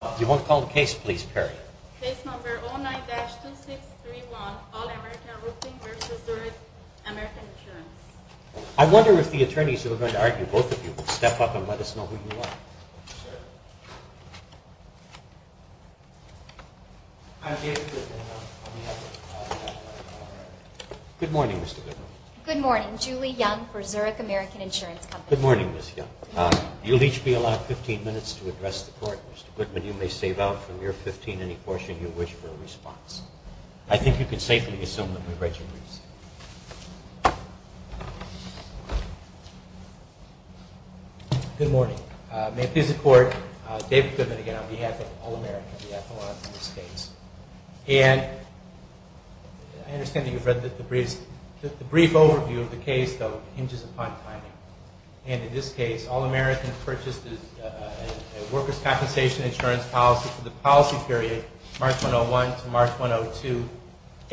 I wonder if the attorneys who are going to argue, both of you, will step up and let us know who you are. I'm David Goodman. Good morning, Mr. Goodman. Good morning. I'm Julie Young for Zurich American Insurance Company. Good morning, Ms. Young. Good morning. You'll each be allowed 15 minutes to address the court. Mr. Goodman, you may save out from your 15 any portion you wish for a response. I think you can safely assume that we've read your briefs. Good morning. May it please the Court, David Goodman again on behalf of All American, we have a lot of briefs. And I understand that you've read the briefs. The brief overview of the case, though, hinges upon timing. And in this case, All American purchased a workers' compensation insurance policy for the policy period March 101 to March 102.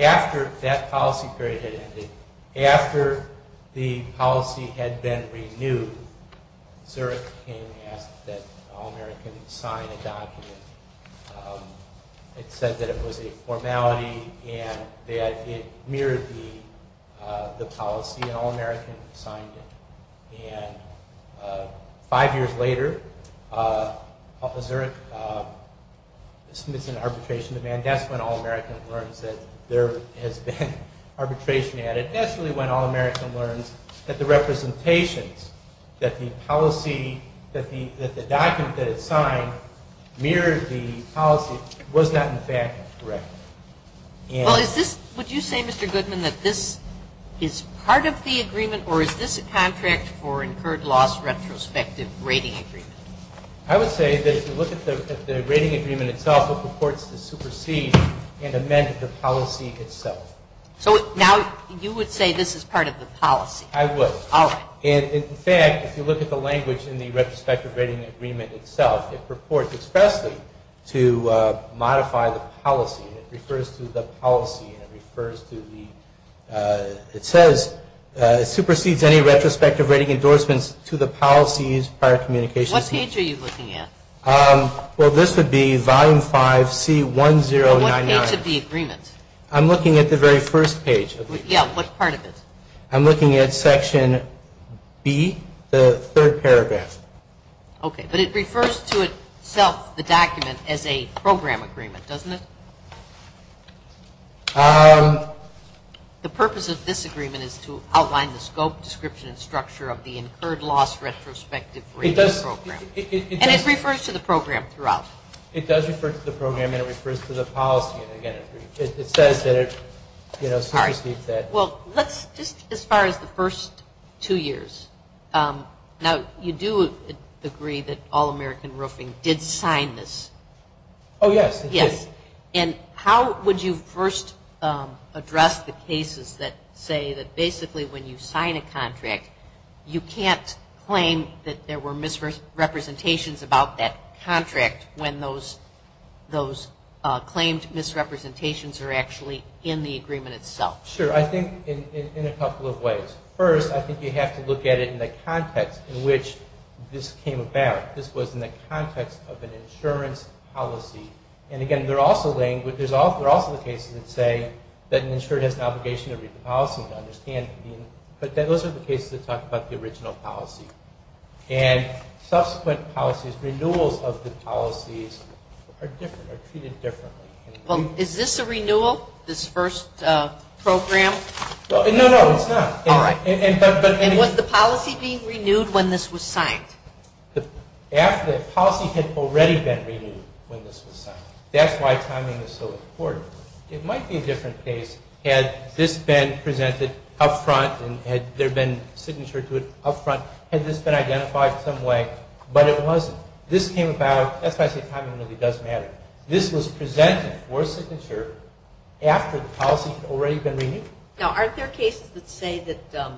After that policy period had ended, after the policy had been renewed, Zurich came and asked that All American sign a document. It said that it was a formality and that it mirrored the policy, and All American signed it. And five years later, Zurich submits an arbitration demand. That's when All American learns that there has been arbitration added. That's really when All American learns that the representations, that the policy, that the document that it signed mirrored the policy was not, in fact, correct. Would you say, Mr. Goodman, that this is part of the agreement or is this a contract for incurred loss retrospective rating agreement? I would say that if you look at the rating agreement itself, it purports to supersede and amend the policy itself. So now you would say this is part of the policy? I would. All right. And, in fact, if you look at the language in the retrospective rating agreement itself, it purports expressly to modify the policy. It refers to the policy and it refers to the, it says, supersedes any retrospective rating endorsements to the policies prior communications. What page are you looking at? Well, this would be volume 5C1099. What page of the agreement? I'm looking at the very first page. Yeah, what part of it? I'm looking at section B, the third paragraph. Okay. But it refers to itself, the document, as a program agreement, doesn't it? The purpose of this agreement is to outline the scope, description, and structure of the incurred loss retrospective rating program. And it refers to the program throughout. It does refer to the program and it refers to the policy, and, again, it says that it supersedes that. Well, let's just as far as the first two years. Now, you do agree that All-American Roofing did sign this. Oh, yes. Yes. And how would you first address the cases that say that basically when you sign a contract, you can't claim that there were misrepresentations about that contract when those claimed misrepresentations are actually in the agreement itself? Sure. I think in a couple of ways. First, I think you have to look at it in the context in which this came about. This was in the context of an insurance policy. And, again, there are also the cases that say that an insurer has an obligation to read the policy and understand it. But those are the cases that talk about the original policy. And subsequent policies, renewals of the policies, are different, are treated differently. Well, is this a renewal, this first program? No, no, it's not. All right. And was the policy being renewed when this was signed? The policy had already been renewed when this was signed. That's why timing is so important. It might be a different case had this been presented up front and had there been signature to it up front, had this been identified some way, but it wasn't. This came about, that's why I say timing really does matter. This was presented for signature after the policy had already been renewed. Now, aren't there cases that say that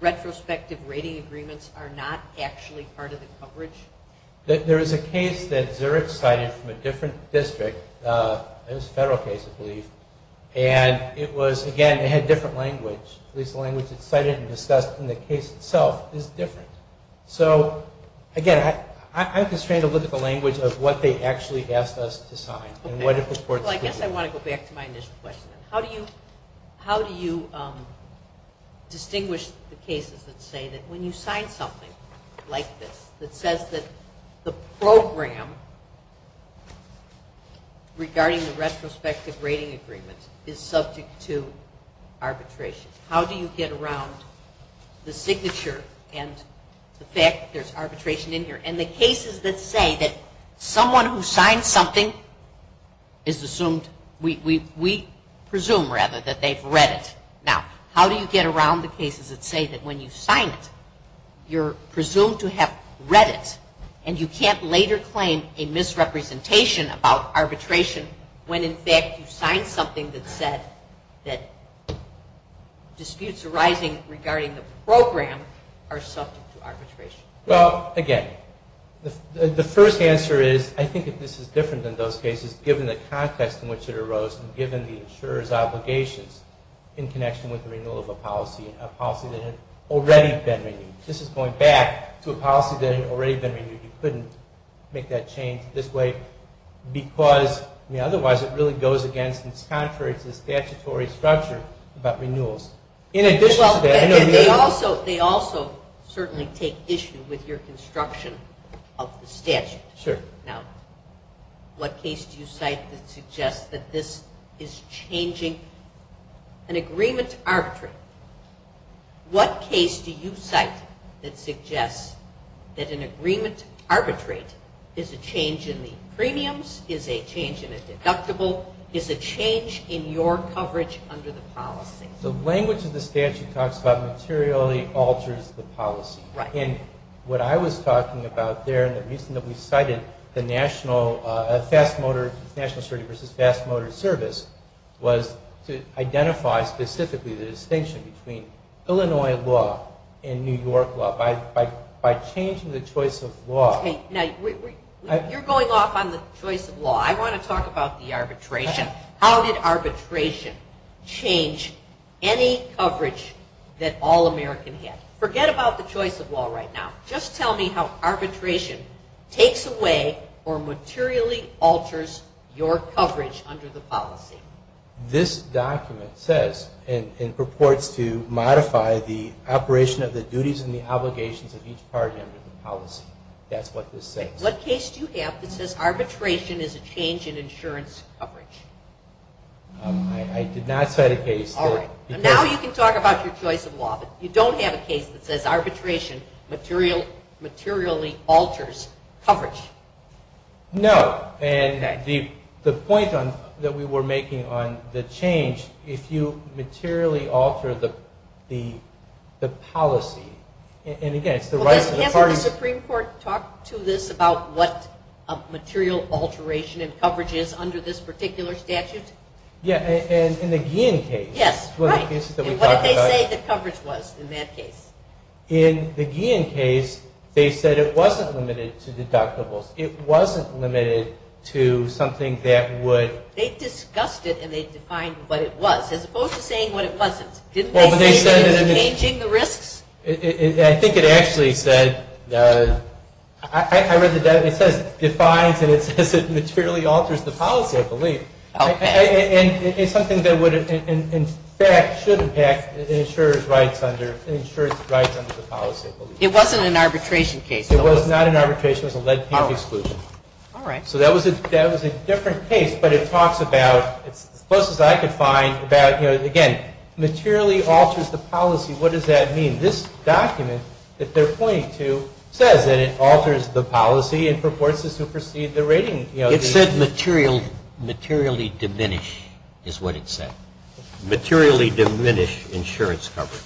retrospective rating agreements are not actually part of the coverage? There is a case that Zurich cited from a different district. It was a federal case, I believe. And it was, again, it had different language. At least the language it cited and discussed in the case itself is different. So, again, I'm constrained to look at the language of what they actually asked us to sign and what it reports to be. Well, I guess I want to go back to my initial question. How do you distinguish the cases that say that when you sign something like this, that says that the program regarding the retrospective rating agreement is subject to arbitration, how do you get around the signature and the fact that there's arbitration in here? And the cases that say that someone who signs something is assumed, we presume, rather, that they've read it. Now, how do you get around the cases that say that when you sign it, you're presumed to have read it and you can't later claim a misrepresentation about arbitration when, in fact, you signed something that said that disputes arising regarding the program are subject to arbitration? Well, again, the first answer is I think that this is different than those cases given the context in which it arose and given the insurer's obligations in connection with the renewal of a policy, a policy that had already been renewed. This is going back to a policy that had already been renewed. You couldn't make that change this way because, I mean, otherwise it really goes against, and it's contrary to the statutory structure about renewals. In addition to that, I know the other... Well, they also certainly take issue with your construction of the statute. Sure. Now, what case do you cite that suggests that this is changing an agreement to arbitration? What case do you cite that suggests that an agreement to arbitrate is a change in the premiums, is a change in a deductible, is a change in your coverage under the policy? The language of the statute talks about materially alters the policy. Right. And what I was talking about there and the reason that we cited the national... was to identify specifically the distinction between Illinois law and New York law. By changing the choice of law... Now, you're going off on the choice of law. I want to talk about the arbitration. How did arbitration change any coverage that All-American had? Forget about the choice of law right now. Just tell me how arbitration takes away or materially alters your coverage under the policy. This document says and purports to modify the operation of the duties and the obligations of each party under the policy. That's what this says. What case do you have that says arbitration is a change in insurance coverage? I did not cite a case that... All right. Now you can talk about your choice of law, but you don't have a case that says arbitration materially alters coverage. No. And the point that we were making on the change, if you materially alter the policy, and again, it's the rights of the parties... Hasn't the Supreme Court talked to this about what a material alteration in coverage is under this particular statute? Yeah, in the Guillen case. Yes, right. And what did they say the coverage was in that case? In the Guillen case, they said it wasn't limited to deductibles. It wasn't limited to something that would... They discussed it, and they defined what it was, as opposed to saying what it wasn't. Didn't they say it was changing the risks? I think it actually said... I read the document. It says defines, and it says it materially alters the policy, I believe. Okay. And it's something that would, in fact, should impact insurer's rights under the policy, I believe. It wasn't an arbitration case, though, was it? It was not an arbitration. It was a lead-pink exclusion. All right. So that was a different case, but it talks about, as close as I could find, about, again, materially alters the policy. What does that mean? This document that they're pointing to says that it alters the policy and purports to supersede the rating. It said materially diminish, is what it said. Materially diminish insurance coverage.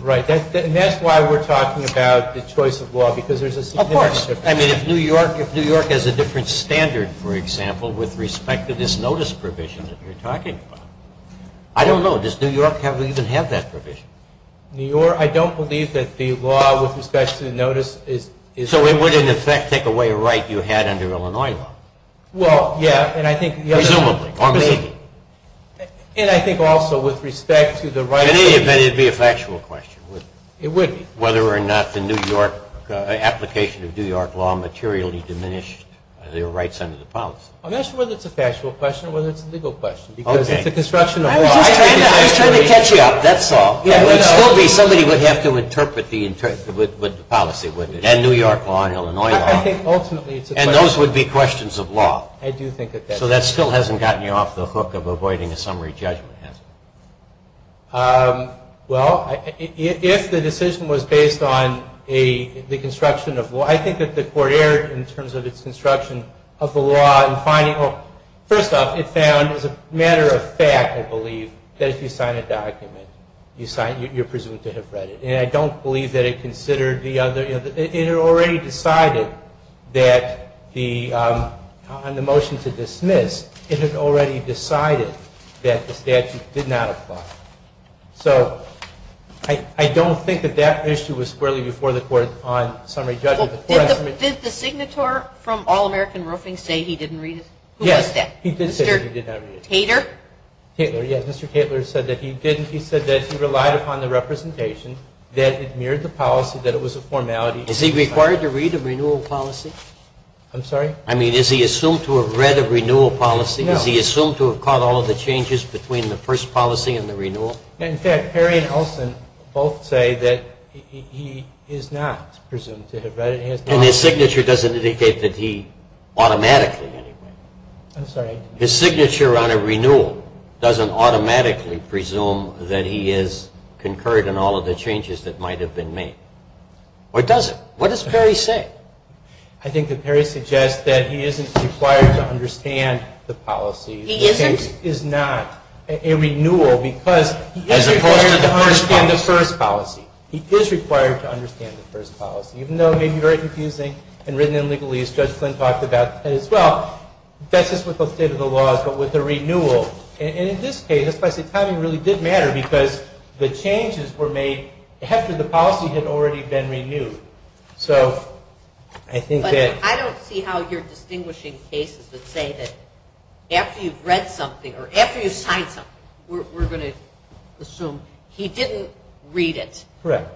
Right. And that's why we're talking about the choice of law, because there's a significant difference. Of course. I mean, if New York has a different standard, for example, with respect to this notice provision that you're talking about. I don't know. Does New York even have that provision? I don't believe that the law with respect to the notice is... So it would, in effect, take away a right you had under Illinois law? Well, yeah, and I think... Presumably, or maybe. And I think also with respect to the right... In any event, it would be a factual question, wouldn't it? It would be. Whether or not the New York application of New York law materially diminished the rights under the policy. I'm not sure whether it's a factual question or whether it's a legal question, because it's a construction of law. I was just trying to catch you up. That's all. It would still be somebody would have to interpret the policy, wouldn't it? And New York law and Illinois law. I think ultimately it's a question... And those would be questions of law. I do think that that's... So that still hasn't gotten you off the hook of avoiding a summary judgment, has it? Well, if the decision was based on the construction of law, I think that the court erred in terms of its construction of the law and finding... First off, it found as a matter of fact, I believe, that if you sign a document, you're presumed to have read it. And I don't believe that it considered the other... It had already decided that on the motion to dismiss, it had already decided that the statute did not apply. So I don't think that that issue was squarely before the court on summary judgment. Did the signator from All-American Roofing say he didn't read it? Yes. Who was that? He did say that he did not read it. Mr. Tater? Tater, yes. Mr. Tater said that he didn't. He did say on the representation that it mirrored the policy, that it was a formality... Is he required to read a renewal policy? I'm sorry? I mean, is he assumed to have read a renewal policy? No. Is he assumed to have caught all of the changes between the first policy and the renewal? In fact, Perry and Olson both say that he is not presumed to have read it. And his signature doesn't indicate that he automatically... I'm sorry. His signature on a renewal doesn't automatically presume that he has concurred on all of the changes that might have been made. Or does it? What does Perry say? I think that Perry suggests that he isn't required to understand the policy. He isn't? This case is not a renewal because he is required to understand the first policy. As opposed to the first policy. He is required to understand the first policy. Even though it may be very confusing and written in legalese, Judge Flynn talked about that as well, not just with the state of the law, but with the renewal. And in this case, especially timing really did matter because the changes were made after the policy had already been renewed. So I think that... But I don't see how you're distinguishing cases that say that after you've read something, or after you've signed something, we're going to assume he didn't read it. Correct.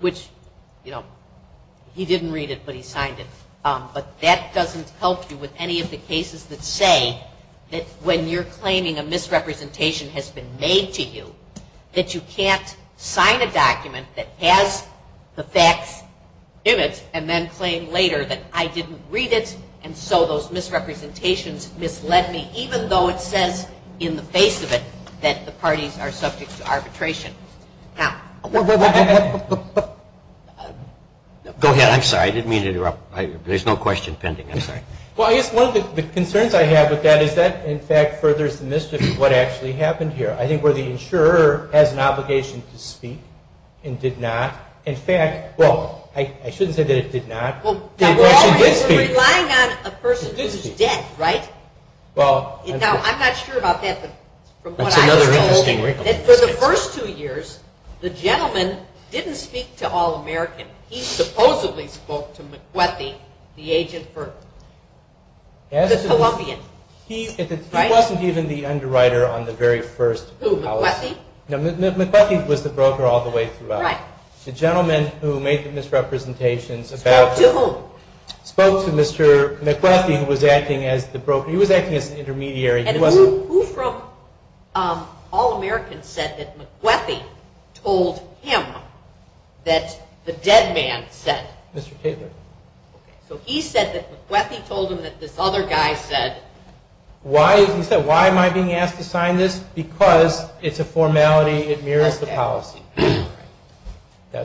Which, you know, he didn't read it, but he signed it. But that doesn't help you with any of the cases that say that when you're claiming a misrepresentation has been made to you, that you can't sign a document that has the facts in it and then claim later that I didn't read it and so those misrepresentations misled me, even though it says in the face of it that the parties are subject to arbitration. Now... I have... Go ahead. I'm sorry. I didn't mean to interrupt. There's no question pending. I'm sorry. Well, I guess one of the concerns I have with that is that, in fact, furthers the mystery of what actually happened here. I think where the insurer has an obligation to speak and did not. In fact, well, I shouldn't say that it did not. Well, we're relying on a person who's dead, right? Well... Now, I'm not sure about that. That's another interesting way to put it. For the first two years, the gentleman didn't speak to All-American. He supposedly spoke to McBethy, the agent for the Colombian, right? He wasn't even the underwriter on the very first policy. Who, McBethy? No, McBethy was the broker all the way throughout. Right. The gentleman who made the misrepresentations about... Spoke to whom? Spoke to Mr. McBethy, who was acting as the broker. He was acting as an intermediary. And who from All-American said that McBethy told him that the dead man said... Mr. Taylor. Okay. So he said that McBethy told him that this other guy said... He said, why am I being asked to sign this? Because it's a formality. It mirrors the policy. Okay.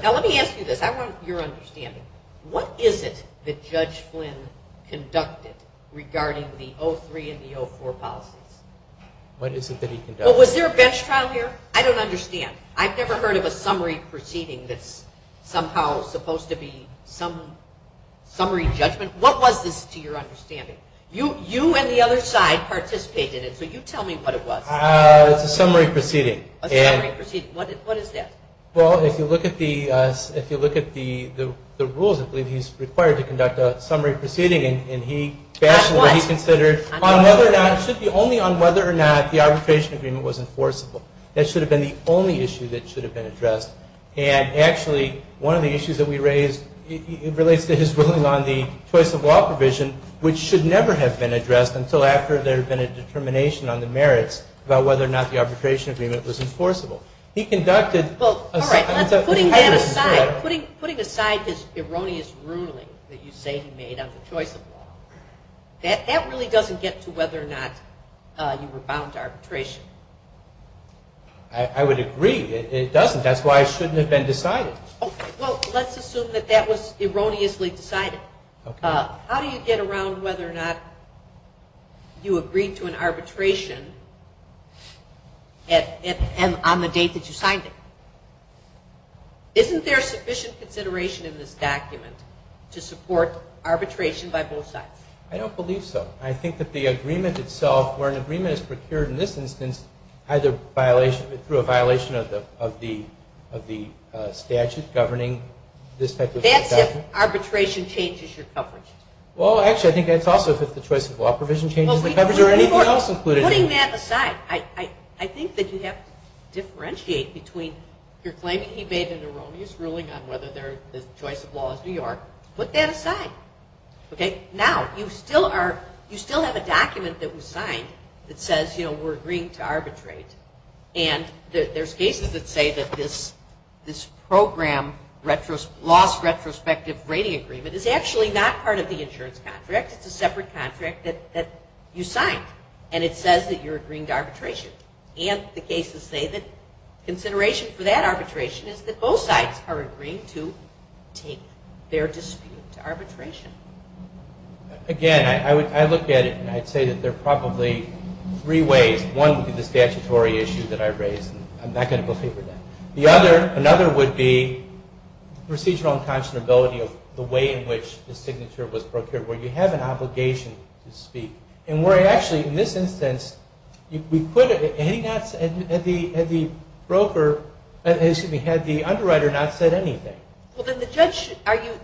Now, let me ask you this. I want your understanding. What is it that Judge Flynn conducted regarding the 03 and the 04 policies? What is it that he conducted? Well, was there a bench trial here? I don't understand. I've never heard of a summary proceeding that's somehow supposed to be some summary judgment. What was this, to your understanding? You and the other side participated in it, so you tell me what it was. It's a summary proceeding. A summary proceeding. What is that? Well, if you look at the rules, I believe he's required to conduct a summary proceeding. That's what? It should be only on whether or not the arbitration agreement was enforceable. That should have been the only issue that should have been addressed. And, actually, one of the issues that we raised relates to his ruling on the choice of law provision, which should never have been addressed until after there had been a determination on the merits about whether or not the arbitration agreement was enforceable. Well, all right. Putting that aside, putting aside his erroneous ruling that you say he made on the choice of law, that really doesn't get to whether or not you were bound to arbitration. I would agree. It doesn't. That's why it shouldn't have been decided. Okay. Well, let's assume that that was erroneously decided. How do you get around whether or not you agreed to an arbitration? And on the date that you signed it. Isn't there sufficient consideration in this document to support arbitration by both sides? I don't believe so. I think that the agreement itself, where an agreement is procured in this instance, either through a violation of the statute governing this type of discussion. That's if arbitration changes your coverage. Well, actually, I think that's also if the choice of law provision changes the coverage or anything else included. Putting that aside. I think that you have to differentiate between you're claiming he made an erroneous ruling on whether the choice of law is New York. Put that aside. Okay. Now, you still have a document that was signed that says, you know, we're agreeing to arbitrate. And there's cases that say that this program lost retrospective rating agreement is actually not part of the insurance contract. It's a separate contract that you signed. And it says that you're agreeing to arbitration. And the cases say that consideration for that arbitration is that both sides are agreeing to take their dispute to arbitration. Again, I looked at it, and I'd say that there are probably three ways. One would be the statutory issue that I raised, and I'm not going to go over that. Another would be procedural unconscionability of the way in which the signature was procured, where you have an obligation to speak. And where I actually, in this instance, had the underwriter not said anything. Well, then the judge, are you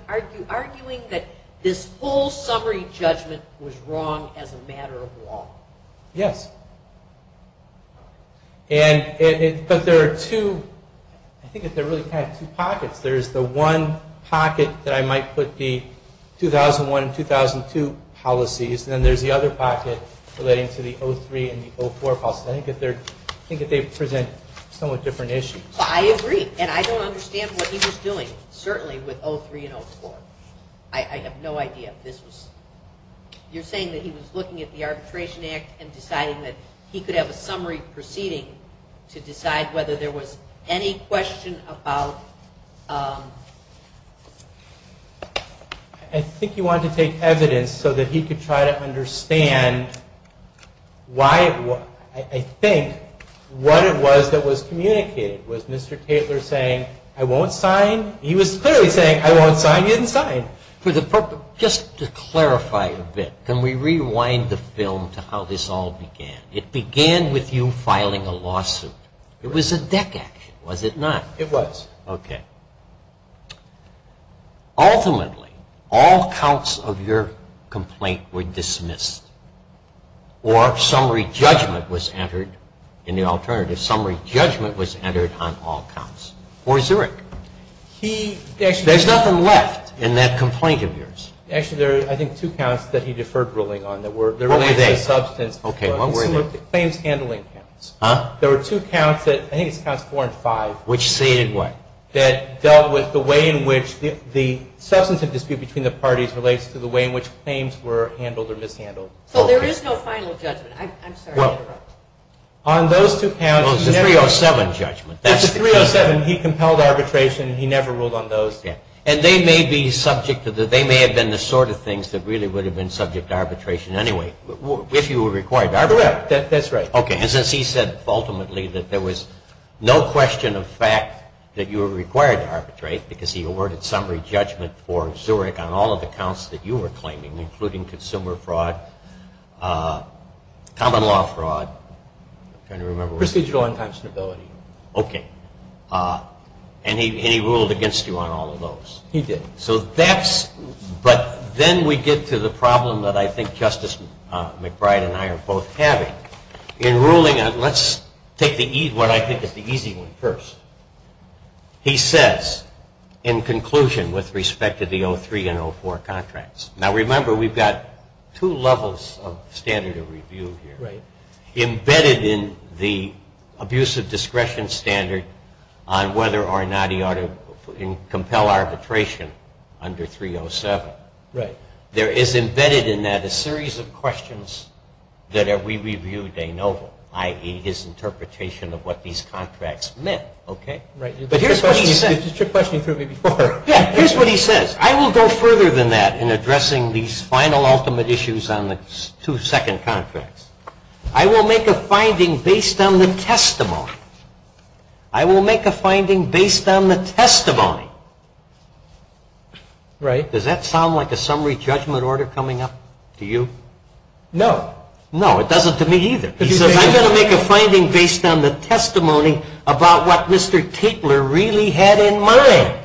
arguing that this whole summary judgment was wrong as a matter of law? Yes. But there are two pockets. There's the one pocket that I might put the 2001 and 2002 policies, and then there's the other pocket relating to the 2003 and 2004 policies. I think that they present somewhat different issues. I agree. And I don't understand what he was doing, certainly, with 2003 and 2004. I have no idea if this was... You're saying that he was looking at the Arbitration Act and deciding that he could have a summary proceeding to decide whether there was any question about... I think he wanted to take evidence so that he could try to understand why it was... I think what it was that was communicated was Mr. Taylor saying, I won't sign. He was clearly saying, I won't sign. He didn't sign. Just to clarify a bit, can we rewind the film to how this all began? It began with you filing a lawsuit. It was a deck action, was it not? It was. It was. Okay. Ultimately, all counts of your complaint were dismissed, or summary judgment was entered in the alternative. Summary judgment was entered on all counts. Or Zurich. There's nothing left in that complaint of yours. Actually, there are, I think, two counts that he deferred ruling on. What were they? Okay, what were they? Claims handling counts. There were two counts that... That dealt with the way in which the substantive dispute between the parties relates to the way in which claims were handled or mishandled. So there is no final judgment. I'm sorry to interrupt. On those two counts... It was a 307 judgment. It was a 307. He compelled arbitration. He never ruled on those. And they may have been the sort of things that really would have been subject to arbitration anyway, if you were required to arbitrate. That's right. Okay, and since he said ultimately that there was no question of fact that you were required to arbitrate because he awarded summary judgment for Zurich on all of the counts that you were claiming, including consumer fraud, common law fraud. I'm trying to remember... Presidial inconstability. Okay. And he ruled against you on all of those. He did. So that's... But then we get to the problem that I think Justice McBride and I are both having. In ruling on... Let's take what I think is the easy one first. He says in conclusion with respect to the 03 and 04 contracts. Now remember we've got two levels of standard of review here. Right. Embedded in the abuse of discretion standard on whether or not he ought to compel arbitration under 307. Right. There is embedded in that a series of questions that we reviewed de novo, i.e., his interpretation of what these contracts meant. Okay? Right. But here's what he says. You just took questions through me before. Yeah, here's what he says. I will go further than that in addressing these final ultimate issues on the two second contracts. I will make a finding based on the testimony. I will make a finding based on the testimony. Right. Does that sound like a summary judgment order coming up to you? No. No, it doesn't to me either. He says I'm going to make a finding based on the testimony about what Mr. Tapler really had in mind.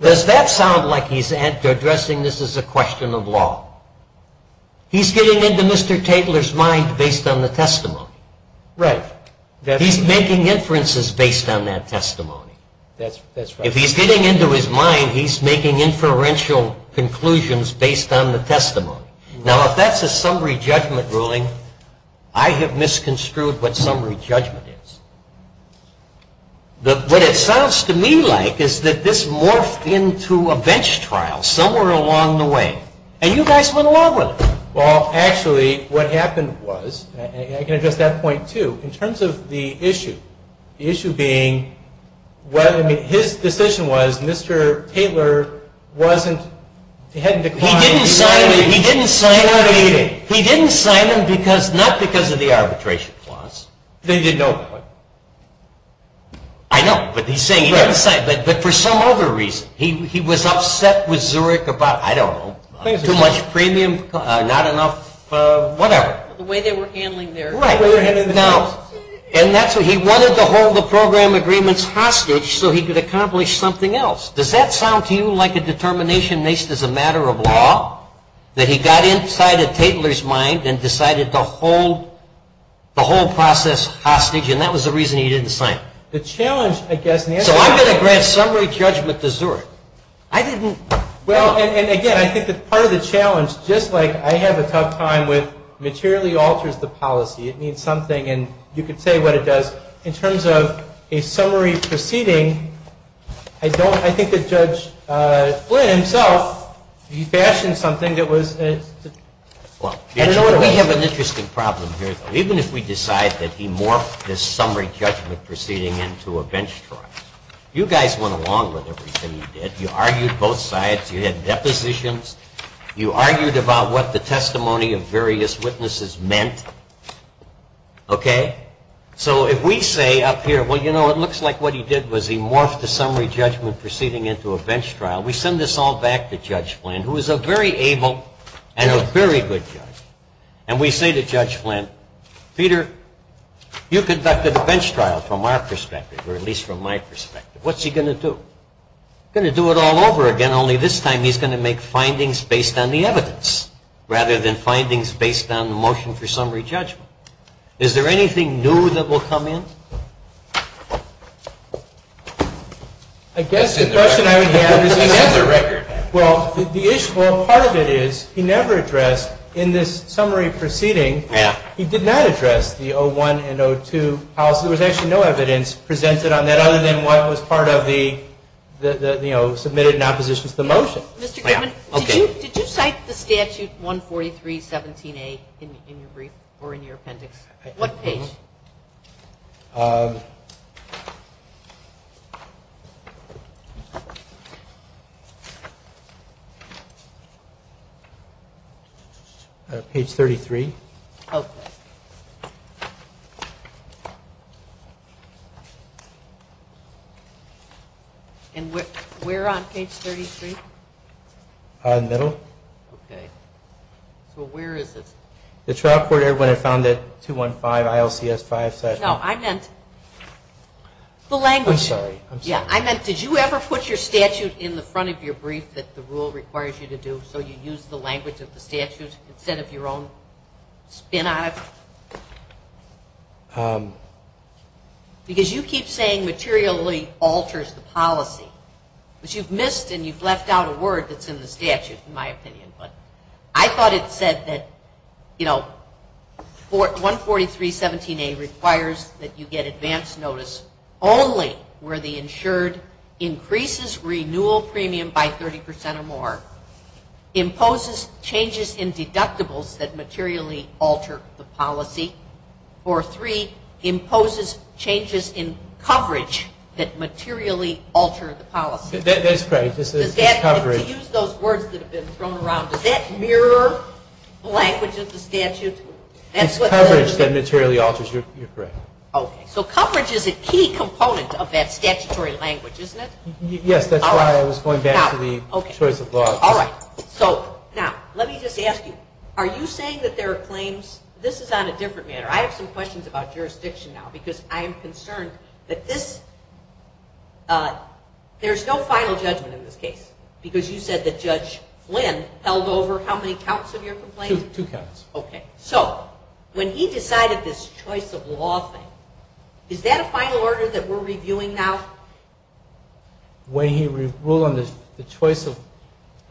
Does that sound like he's addressing this as a question of law? He's getting into Mr. Tapler's mind based on the testimony. Right. He's making inferences based on that testimony. That's right. If he's getting into his mind, he's making inferential conclusions based on the testimony. Now if that's a summary judgment ruling, I have misconstrued what summary judgment is. What it sounds to me like is that this morphed into a bench trial somewhere along the way, and you guys went along with it. Well, actually, what happened was, and I can address that point too, in terms of the issue. The issue being, his decision was Mr. Tapler wasn't, he hadn't declined. He didn't sign him. He didn't sign him. He didn't sign him because, not because of the arbitration clause. Then he didn't know about it. I know, but he's saying he didn't sign, but for some other reason. He was upset with Zurich about, I don't know, too much premium, not enough whatever. The way they were handling their business. Right. And that's what he wanted to hold the program agreements hostage so he could accomplish something else. Does that sound to you like a determination based as a matter of law? That he got inside of Tapler's mind and decided to hold the whole process hostage, and that was the reason he didn't sign. The challenge, I guess. So I'm going to grant summary judgment to Zurich. I didn't. Well, and again, I think that part of the challenge, just like I have a tough time with materially alters the policy. It means something, and you could say what it does. But in terms of a summary proceeding, I think that Judge Flynn himself, he fashioned something that was. Well, we have an interesting problem here. Even if we decide that he morphed this summary judgment proceeding into a bench trial, you guys went along with everything you did. You argued both sides. You had depositions. You argued about what the testimony of various witnesses meant. Okay? So if we say up here, well, you know, it looks like what he did was he morphed the summary judgment proceeding into a bench trial. We send this all back to Judge Flynn, who is a very able and a very good judge. And we say to Judge Flynn, Peter, you conducted a bench trial from our perspective, or at least from my perspective. What's he going to do? He's going to do it all over again, only this time he's going to make findings based on the evidence rather than findings based on the motion for summary judgment. Is there anything new that will come in? I guess the question I would have is, well, part of it is he never addressed in this summary proceeding, he did not address the 01 and 02 policy. There was actually no evidence presented on that other than what was part of the, you know, submitted in opposition to the motion. Did you cite the statute 143.17a in your brief or in your appendix? What page? Page 33. Okay. And where on page 33? In the middle. Okay. So where is this? The trial court when I found it, 215 ILCS 5. No, I meant the language. I'm sorry. Yeah, I meant did you ever put your statute in the front of your brief that the rule requires you to do so you use the language of the statute instead of your own spin on it? Because you keep saying materially alters the policy, which you've missed and you've left out a word that's in the statute in my opinion. But I thought it said that, you know, 143.17a requires that you get advance notice only where the insured increases renewal premium by 30% or more, imposes changes in deductibles that materially alter the policy, or three, imposes changes in coverage that materially alter the policy. That's correct. To use those words that have been thrown around, does that mirror the language of the statute? It's coverage that materially alters. You're correct. Okay. So coverage is a key component of that statutory language, isn't it? Yes, that's why I was going back to the choice of law. All right. So now let me just ask you, are you saying that there are claims? This is on a different matter. I have some questions about jurisdiction now because I am concerned that this, there's no final judgment in this case because you said that Judge Flynn held over how many counts of your complaint? Two counts. Okay. So when he decided this choice of law thing, is that a final order that we're reviewing now? When he ruled on the choice of...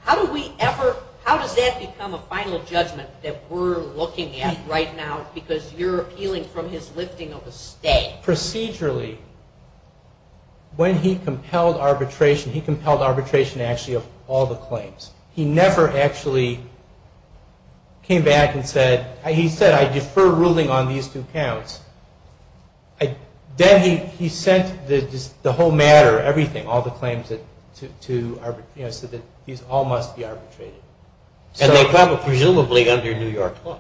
How do we ever, how does that become a final judgment that we're looking at right now because you're appealing from his lifting of a stay? Procedurally, when he compelled arbitration, he compelled arbitration actually of all the claims. He never actually came back and said, he said, I defer ruling on these two counts. Then he sent the whole matter, everything, all the claims so that these all must be arbitrated. And they probably, presumably, under New York law?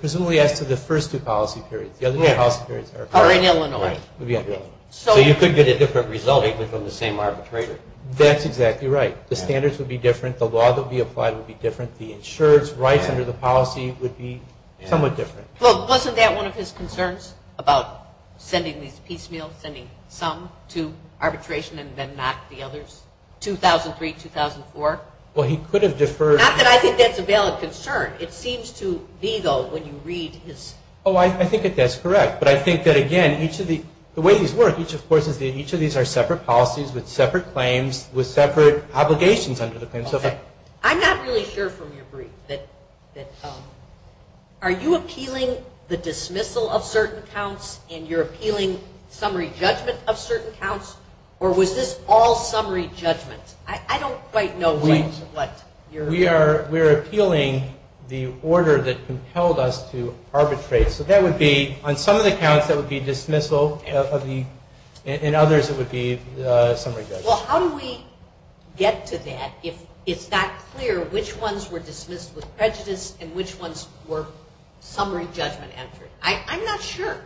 Presumably, as to the first two policy periods. The other two policy periods are... Are in Illinois. Right. So you could get a different result, equally, from the same arbitrator. That's exactly right. The standards would be different. The law that would be applied would be different. The insurance rights under the policy would be somewhat different. Well, wasn't that one of his concerns about sending these piecemeal, sending some to arbitration and then not the others, 2003, 2004? Well, he could have deferred... Not that I think that's a valid concern. It seems to be, though, when you read his... Oh, I think that that's correct. But I think that, again, each of the... with separate obligations under the claims. Okay. I'm not really sure from your brief that... Are you appealing the dismissal of certain counts and you're appealing summary judgment of certain counts? Or was this all summary judgment? I don't quite know what you're... We are appealing the order that compelled us to arbitrate. So that would be, on some of the counts, that would be dismissal. In others, it would be summary judgment. Well, how do we get to that if it's not clear which ones were dismissed with prejudice and which ones were summary judgment entered? I'm not sure.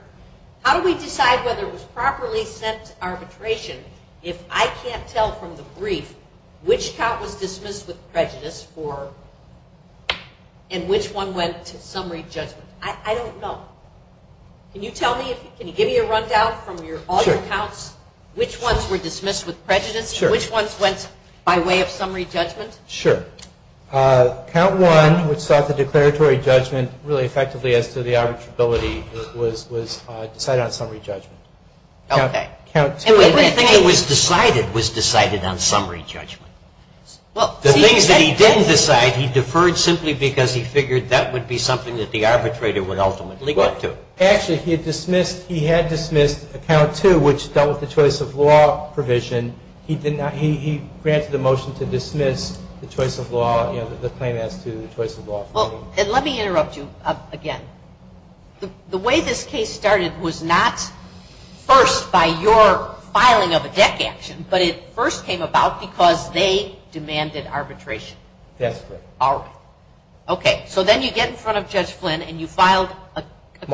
How do we decide whether it was properly sent to arbitration if I can't tell from the brief which count was dismissed with prejudice and which one went to summary judgment? I don't know. Can you tell me? Can you give me a rundown from all your counts? Sure. Which ones were dismissed with prejudice? Sure. Which ones went by way of summary judgment? Sure. Count one, which sought the declaratory judgment really effectively as to the arbitrability, was decided on summary judgment. Okay. And everything that was decided was decided on summary judgment. The things that he didn't decide, he deferred simply because he figured that would be something that the arbitrator would ultimately go to. Actually, he had dismissed account two, which dealt with the choice of law provision. He granted a motion to dismiss the choice of law, the claim as to the choice of law. Let me interrupt you again. The way this case started was not first by your filing of a DEC action, but it first came about because they demanded arbitration. That's correct. All right. Okay. So then you get in front of Judge Flynn and you filed a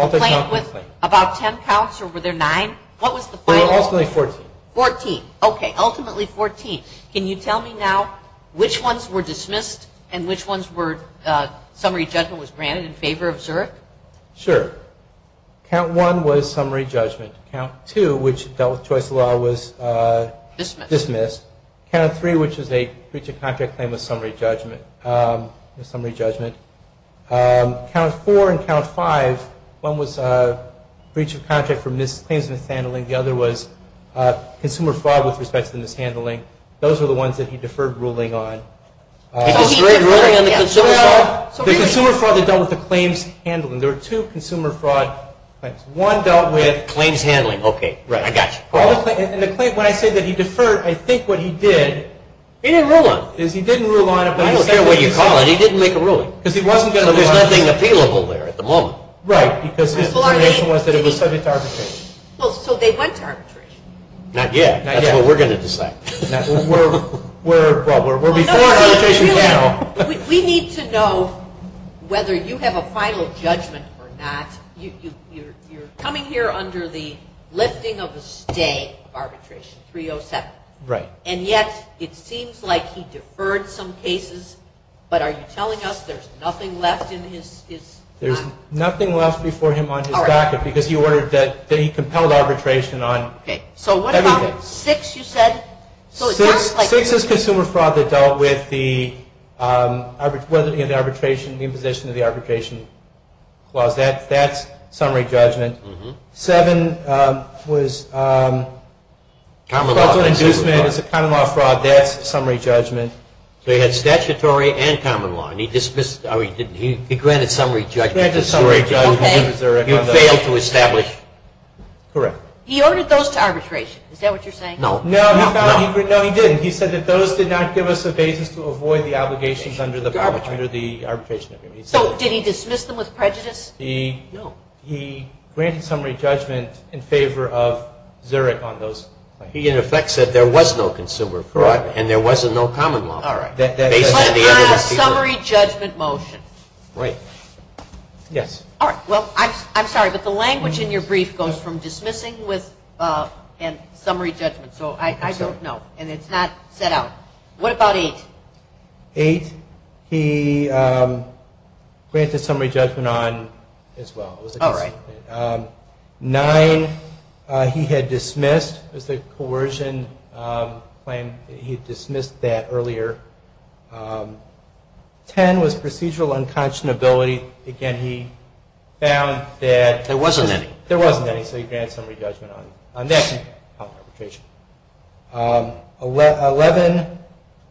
claim with about ten counts, or were there nine? What was the final? There were ultimately 14. 14. Okay. Ultimately 14. Can you tell me now which ones were dismissed and which ones were summary judgment was granted in favor of Zurich? Sure. Count one was summary judgment. Count two, which dealt with choice of law, was dismissed. Count three, which is a breach of contract claim with summary judgment. Count four and count five, one was breach of contract for claims of mishandling. The other was consumer fraud with respect to the mishandling. Those were the ones that he deferred ruling on. He deferred ruling on the consumer fraud? The consumer fraud that dealt with the claims handling. There were two consumer fraud claims. One dealt with claims handling. Okay. I got you. When I say that he deferred, I think what he did, he didn't rule on it. I don't care what you call it, he didn't make a ruling. There's nothing appealable there at the moment. Right, because his information was that it was subject to arbitration. So they went to arbitration? Not yet. That's what we're going to decide. We're before arbitration now. We need to know whether you have a final judgment or not. You're coming here under the lifting of a stay of arbitration, 307. Right. And yet it seems like he deferred some cases, but are you telling us there's nothing left in his? There's nothing left before him on his docket because he ordered that he compelled arbitration on everything. So what about six you said? Six is consumer fraud that dealt with the imposition of the arbitration clause. That's summary judgment. Seven was fraudulent inducement. It's a common law fraud. That's summary judgment. So he had statutory and common law, and he dismissed or he granted summary judgment. He granted summary judgment. You failed to establish. Correct. He ordered those to arbitration, is that what you're saying? No. No, he didn't. He said that those did not give us a basis to avoid the obligations under the arbitration agreement. So did he dismiss them with prejudice? No. He granted summary judgment in favor of Zurich on those. He, in effect, said there was no consumer fraud and there was no common law. All right. But a summary judgment motion. Right. Yes. All right. Well, I'm sorry, but the language in your brief goes from dismissing and summary judgment. So I don't know, and it's not set out. What about eight? Eight. Eight, he granted summary judgment on as well. Oh, right. Nine, he had dismissed as a coercion claim. He dismissed that earlier. Ten was procedural unconscionability. Again, he found that there wasn't any, so he granted summary judgment on that. Eleven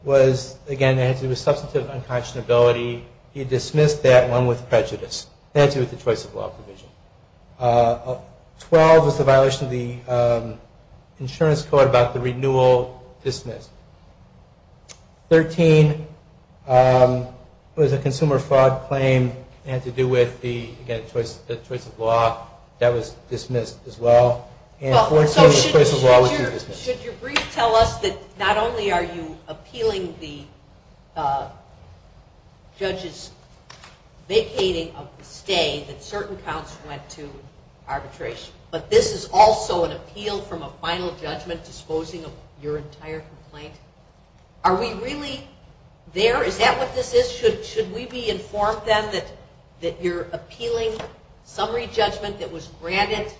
was, again, it had to do with substantive unconscionability. He dismissed that one with prejudice. It had to do with the choice of law provision. Twelve was the violation of the insurance code about the renewal dismissed. Thirteen was a consumer fraud claim. It had to do with, again, the choice of law. That was dismissed as well. So should your brief tell us that not only are you appealing the judge's vacating of the stay, that certain counts went to arbitration, but this is also an appeal from a final judgment disposing of your entire complaint? Are we really there? Is that what this is? Should we be informed then that you're appealing summary judgment that was granted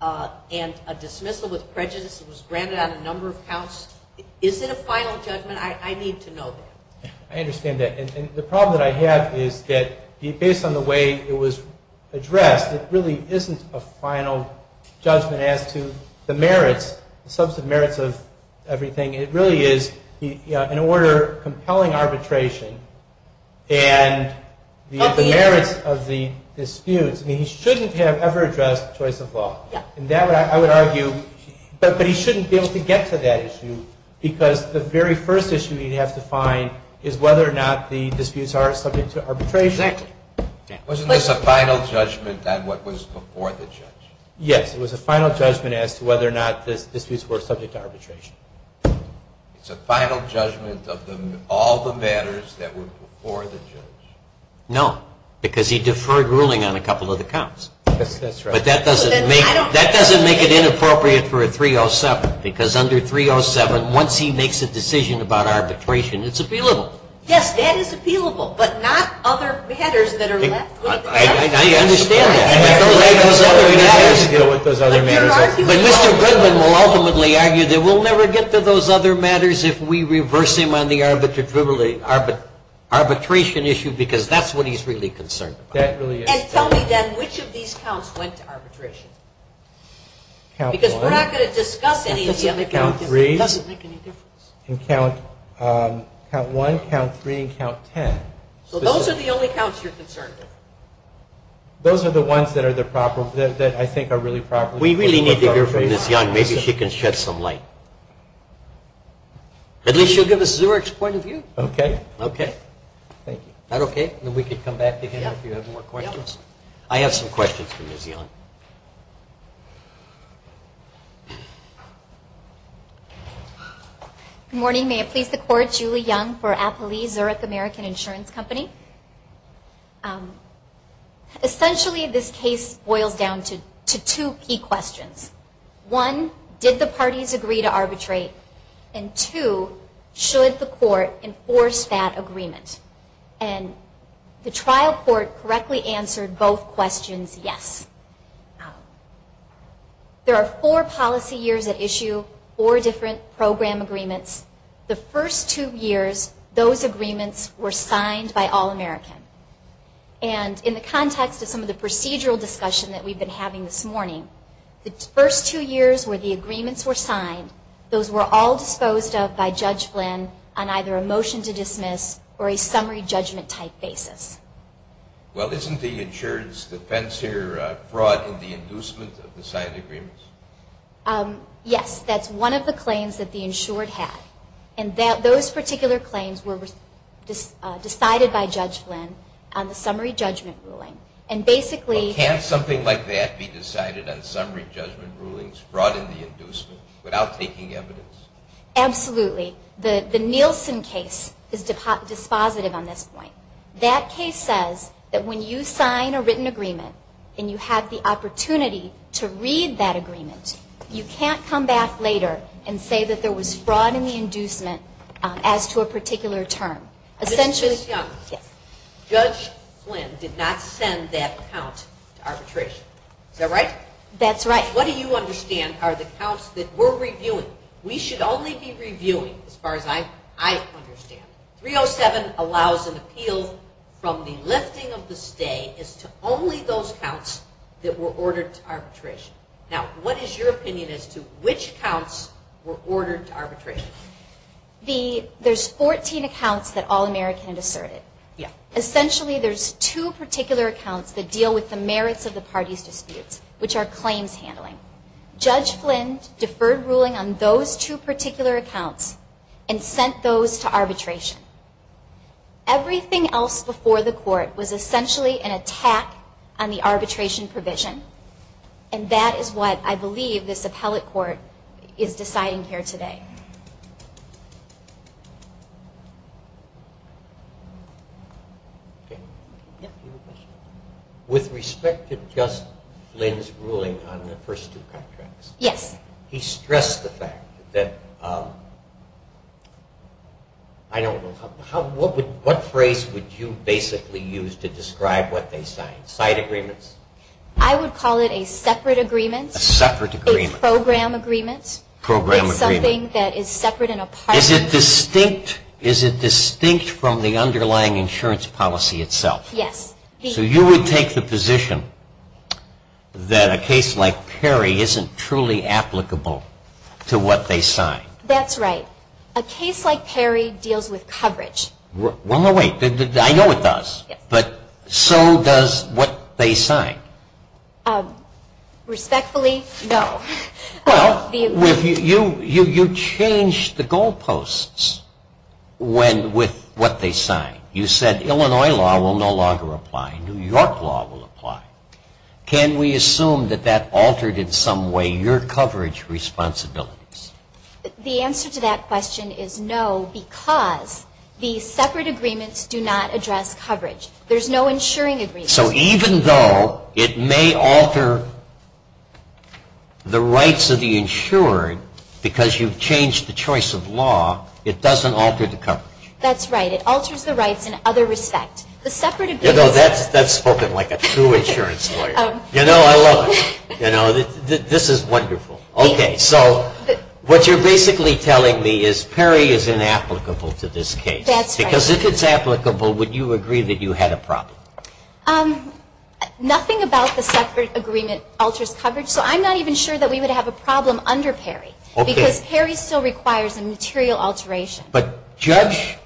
and a dismissal with prejudice that was granted on a number of counts? Is it a final judgment? I need to know that. I understand that. And the problem that I have is that based on the way it was addressed, it really isn't a final judgment as to the merits, the substantive merits of everything. It really is an order compelling arbitration and the merits of the disputes. I mean, he shouldn't have ever addressed the choice of law. I would argue, but he shouldn't be able to get to that issue because the very first issue he'd have to find is whether or not the disputes are subject to arbitration. Exactly. Wasn't this a final judgment on what was before the judge? Yes, it was a final judgment as to whether or not the disputes were subject to arbitration. It's a final judgment of all the matters that were before the judge. No, because he deferred ruling on a couple of the counts. But that doesn't make it inappropriate for a 307 because under 307 once he makes a decision about arbitration, it's appealable. Yes, that is appealable, but not other matters that are left with the judge. I understand that. But Mr. Goodman will ultimately argue that we'll never get to those other matters if we reverse him on the arbitration issue because that's what he's really concerned about. And tell me then, which of these counts went to arbitration? Because we're not going to discuss any of the other counts. Count one, count three, and count ten. So those are the only counts you're concerned with? Those are the ones that I think are really proper. We really need to hear from Ms. Young. Maybe she can shed some light. At least she'll give us Zurich's point of view. Okay. Okay. Thank you. Is that okay? Then we can come back to him if you have more questions. I have some questions for Ms. Young. Good morning. May it please the Court. Julie Young for Appleease, Zurich American Insurance Company. Essentially, this case boils down to two key questions. One, did the parties agree to arbitrate? And two, should the court enforce that agreement? And the trial court correctly answered both questions yes. There are four policy years at issue, four different program agreements. The first two years, those agreements were signed by All-American. And in the context of some of the procedural discussion that we've been having this morning, the first two years where the agreements were signed, those were all disposed of by Judge Flynn on either a motion to dismiss or a summary judgment type basis. Well, isn't the insurance defense here a fraud in the inducement of the signed agreements? Yes. That's one of the claims that the insured had. And those particular claims were decided by Judge Flynn on the summary judgment ruling. And basically they're- Well, can't something like that be decided on summary judgment rulings, fraud in the inducement, without taking evidence? Absolutely. The Nielsen case is dispositive on this point. That case says that when you sign a written agreement and you have the opportunity to read that agreement, you can't come back later and say that there was fraud in the inducement as to a particular term. Essentially- Ms. Young. Yes. Judge Flynn did not send that count to arbitration. Is that right? That's right. What do you understand are the counts that we're reviewing? We should only be reviewing, as far as I understand. 307 allows an appeal from the lifting of the stay as to only those counts that were ordered to arbitration. Now, what is your opinion as to which counts were ordered to arbitration? There's 14 accounts that All-American had asserted. Essentially, there's two particular accounts that deal with the merits of the parties' disputes, which are claims handling. Judge Flynn deferred ruling on those two particular accounts and sent those to arbitration. Everything else before the court was essentially an attack on the arbitration provision, and that is what I believe this appellate court is deciding here today. With respect to Judge Flynn's ruling on the first two contracts- Yes. He stressed the fact that- I don't know. What phrase would you basically use to describe what they signed? Side agreements? I would call it a separate agreement. A separate agreement. A program agreement. Program agreement. Something that is separate and a part of- Is it distinct from the underlying insurance policy itself? Yes. So you would take the position that a case like Perry isn't truly applicable to what they signed? That's right. A case like Perry deals with coverage. Well, no, wait. I know it does, but so does what they signed. Respectfully, no. Well, you changed the goalposts with what they signed. You said Illinois law will no longer apply. New York law will apply. Can we assume that that altered in some way your coverage responsibilities? The answer to that question is no, because the separate agreements do not address coverage. There's no insuring agreement. So even though it may alter the rights of the insured because you've changed the choice of law, it doesn't alter the coverage. That's right. It alters the rights in other respect. The separate agreements- You know, that's spoken like a true insurance lawyer. You know, I love it. You know, this is wonderful. Okay, so what you're basically telling me is Perry is inapplicable to this case. That's right. Would you agree that you had a problem? Nothing about the separate agreement alters coverage. So I'm not even sure that we would have a problem under Perry because Perry still requires a material alteration. But Judge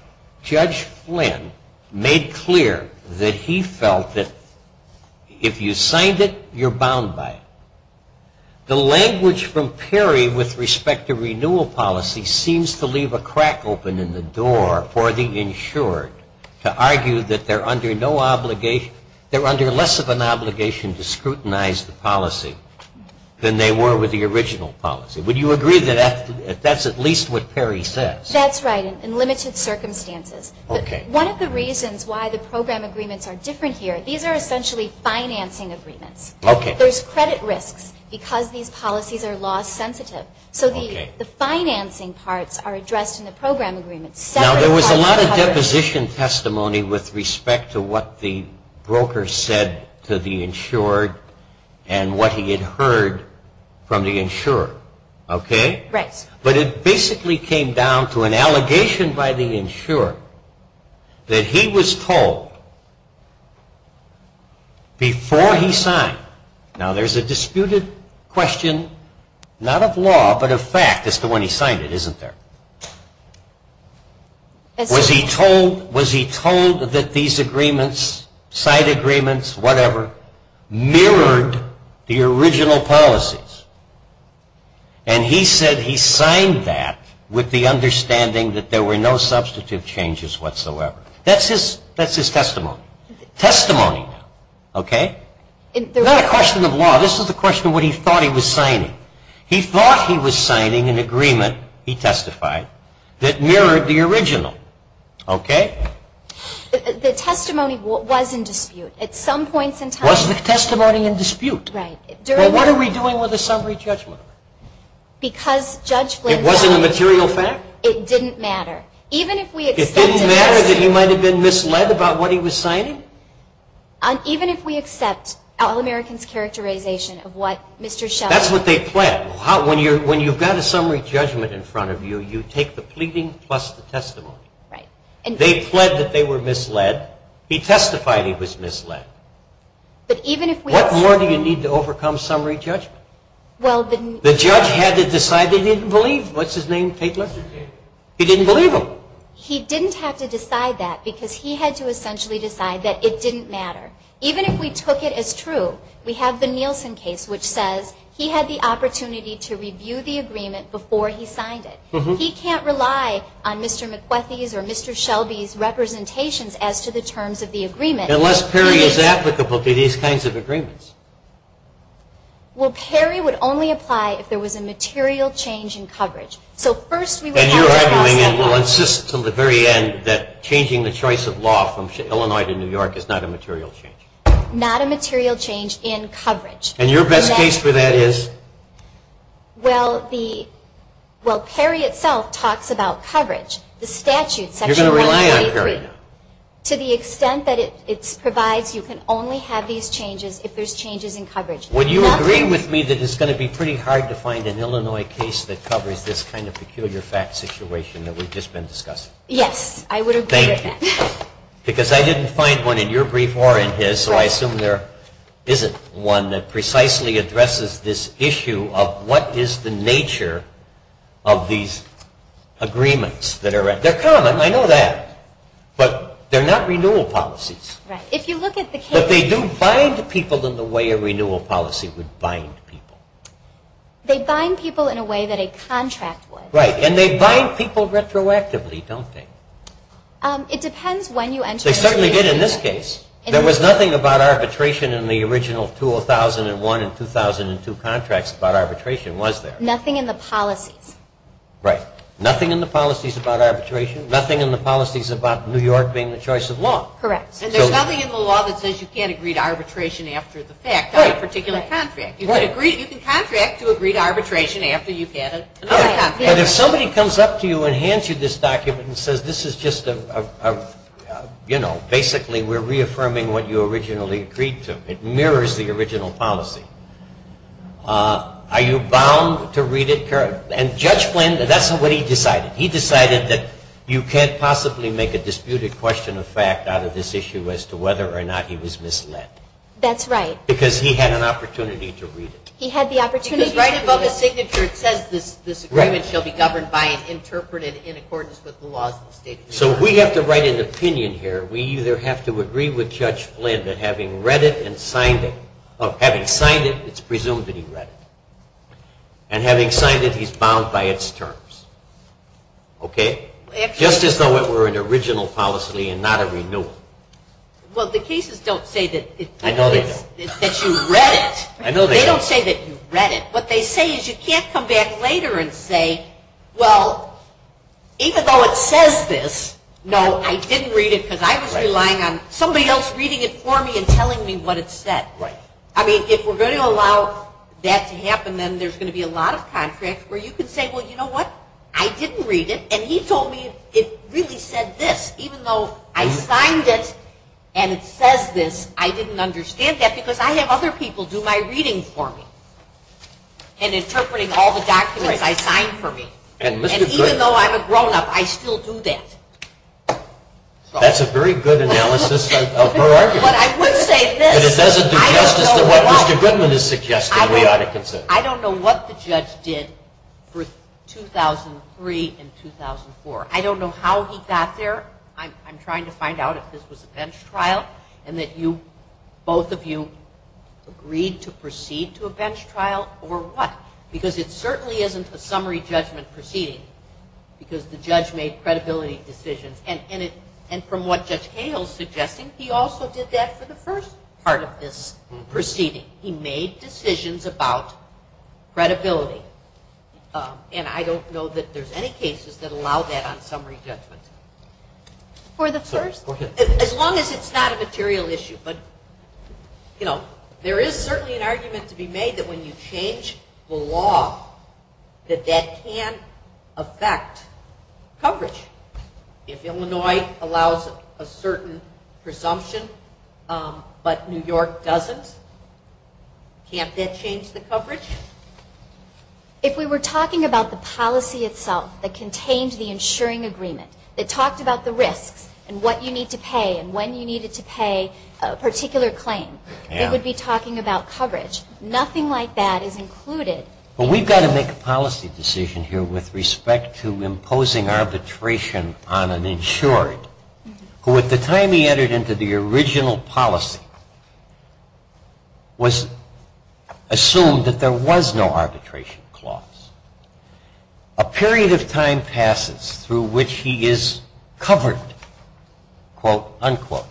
Flynn made clear that he felt that if you signed it, you're bound by it. The language from Perry with respect to renewal policy seems to leave a crack open in the door for the insured to argue that they're under no obligation. They're under less of an obligation to scrutinize the policy than they were with the original policy. Would you agree that that's at least what Perry says? That's right, in limited circumstances. Okay. But one of the reasons why the program agreements are different here, these are essentially financing agreements. Okay. There's credit risks because these policies are law sensitive. So the financing parts are addressed in the program agreements. Now, there was a lot of deposition testimony with respect to what the broker said to the insured and what he had heard from the insured, okay? Right. But it basically came down to an allegation by the insured that he was told before he signed. Now, there's a disputed question, not of law, but of fact as to when he signed it, isn't there? Was he told that these agreements, side agreements, whatever, mirrored the original policies? And he said he signed that with the understanding that there were no substantive changes whatsoever. That's his testimony. Testimony, okay? It's not a question of law. This is the question of what he thought he was signing. He thought he was signing an agreement, he testified, that mirrored the original, okay? The testimony was in dispute at some points in time. Was the testimony in dispute? Right. Well, what are we doing with a summary judgment? Because Judge Glenn said it didn't matter. It wasn't a material fact? It didn't matter. It didn't matter that he might have been misled about what he was signing? Even if we accept All-American's characterization of what Mr. Schell said. That's what they pled. When you've got a summary judgment in front of you, you take the pleading plus the testimony. They pled that they were misled. He testified he was misled. What more do you need to overcome summary judgment? The judge had to decide they didn't believe. What's his name, Tatler? He didn't believe him. He didn't have to decide that because he had to essentially decide that it didn't matter. Even if we took it as true, we have the Nielsen case which says he had the opportunity to review the agreement before he signed it. He can't rely on Mr. McBethy's or Mr. Shelby's representations as to the terms of the agreement. Unless Perry is applicable to these kinds of agreements. Well, Perry would only apply if there was a material change in coverage. So first we would have to cross that line. And you're arguing and will insist until the very end that changing the choice of law from Illinois to New York is not a material change. Not a material change in coverage. And your best case for that is? Well, Perry itself talks about coverage. The statute, Section 193. You're going to rely on Perry now. To the extent that it provides you can only have these changes if there's changes in coverage. Would you agree with me that it's going to be pretty hard to find an Illinois case that covers this kind of peculiar fact situation that we've just been discussing? Yes, I would agree with that. Thank you. Because I didn't find one in your brief or in his. So I assume there isn't one that precisely addresses this issue of what is the nature of these agreements. They're common. I know that. But they're not renewal policies. Right. If you look at the case. But they do bind people in the way a renewal policy would bind people. They bind people in a way that a contract would. Right. And they bind people retroactively, don't they? It depends when you enter a situation. They certainly did in this case. There was nothing about arbitration in the original 2001 and 2002 contracts about arbitration, was there? Nothing in the policies. Right. Nothing in the policies about arbitration. Nothing in the policies about New York being the choice of law. Correct. And there's nothing in the law that says you can't agree to arbitration after the fact on a particular contract. Right. You can contract to agree to arbitration after you've had another contract. Right. But if somebody comes up to you and hands you this document and says this is just a, you know, basically we're reaffirming what you originally agreed to, it mirrors the original policy. Are you bound to read it? And Judge Flynn, that's what he decided. He decided that you can't possibly make a disputed question of fact out of this issue as to whether or not he was misled. That's right. Because he had an opportunity to read it. He had the opportunity to read it. Because right above the signature it says this agreement shall be governed by and interpreted in accordance with the laws of the State of New York. So we have to write an opinion here. We either have to agree with Judge Flynn that having read it and signed it, or having signed it, it's presumed that he read it. And having signed it, he's bound by its terms. Okay? Just as though it were an original policy and not a renewal. Well, the cases don't say that you read it. I know they don't. They don't say that you read it. What they say is you can't come back later and say, well, even though it says this, no, I didn't read it because I was relying on somebody else reading it for me and telling me what it said. Right. I mean, if we're going to allow that to happen, then there's going to be a lot of contracts where you can say, well, you know what? I didn't read it, and he told me it really said this. Even though I signed it and it says this, I didn't understand that because I have other people do my reading for me and interpreting all the documents I signed for me. And even though I'm a grownup, I still do that. That's a very good analysis of her argument. But it doesn't do justice to what Mr. Goodman is suggesting we ought to consider. I don't know what the judge did for 2003 and 2004. I don't know how he got there. I'm trying to find out if this was a bench trial and that both of you agreed to proceed to a bench trial or what, because it certainly isn't a summary judgment proceeding because the judge made credibility decisions. And from what Judge Cahill is suggesting, he also did that for the first part of this proceeding. He made decisions about credibility. And I don't know that there's any cases that allow that on summary judgment. For the first? As long as it's not a material issue. But, you know, there is certainly an argument to be made that when you change the law, that that can affect coverage. If Illinois allows a certain presumption but New York doesn't, can't that change the coverage? If we were talking about the policy itself that contained the insuring agreement, that talked about the risks and what you need to pay and when you needed to pay a particular claim, it would be talking about coverage. Nothing like that is included. But we've got to make a policy decision here with respect to imposing arbitration on an insured, who at the time he entered into the original policy was assumed that there was no arbitration clause. A period of time passes through which he is covered, quote, unquote.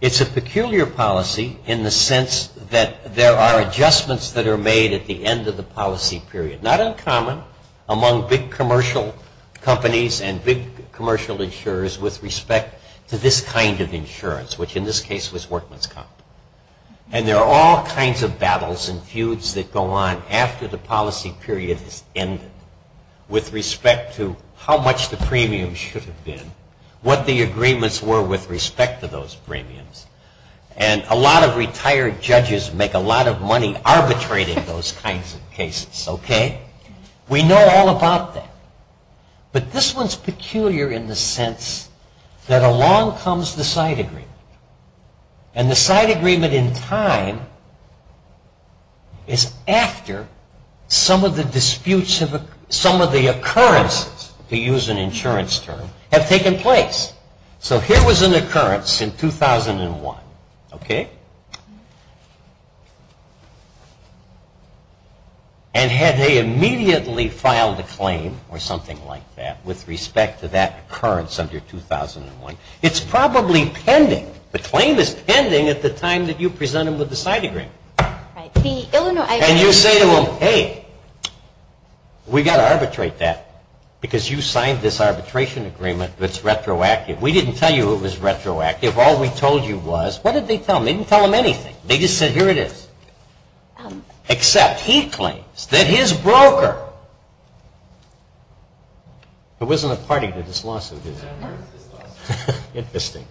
It's a peculiar policy in the sense that there are adjustments that are made at the end of the policy period. Not uncommon among big commercial companies and big commercial insurers with respect to this kind of insurance, which in this case was Workman's Comp. And there are all kinds of battles and feuds that go on after the policy period has ended with respect to how much the premiums should have been, what the agreements were with respect to those premiums. And a lot of retired judges make a lot of money arbitrating those kinds of cases, okay? We know all about that. But this one's peculiar in the sense that along comes the side agreement. And the side agreement in time is after some of the disputes, some of the occurrences, to use an insurance term, have taken place. So here was an occurrence in 2001, okay? And had they immediately filed a claim or something like that with respect to that occurrence under 2001, it's probably pending. The claim is pending at the time that you present them with the side agreement. And you say to them, hey, we've got to arbitrate that because you signed this arbitration agreement that's retroactive. We didn't tell you it was retroactive. All we told you was, what did they tell them? They didn't tell them anything. They just said, here it is. Except he claims that his broker, there wasn't a party to this lawsuit, is there? Interesting.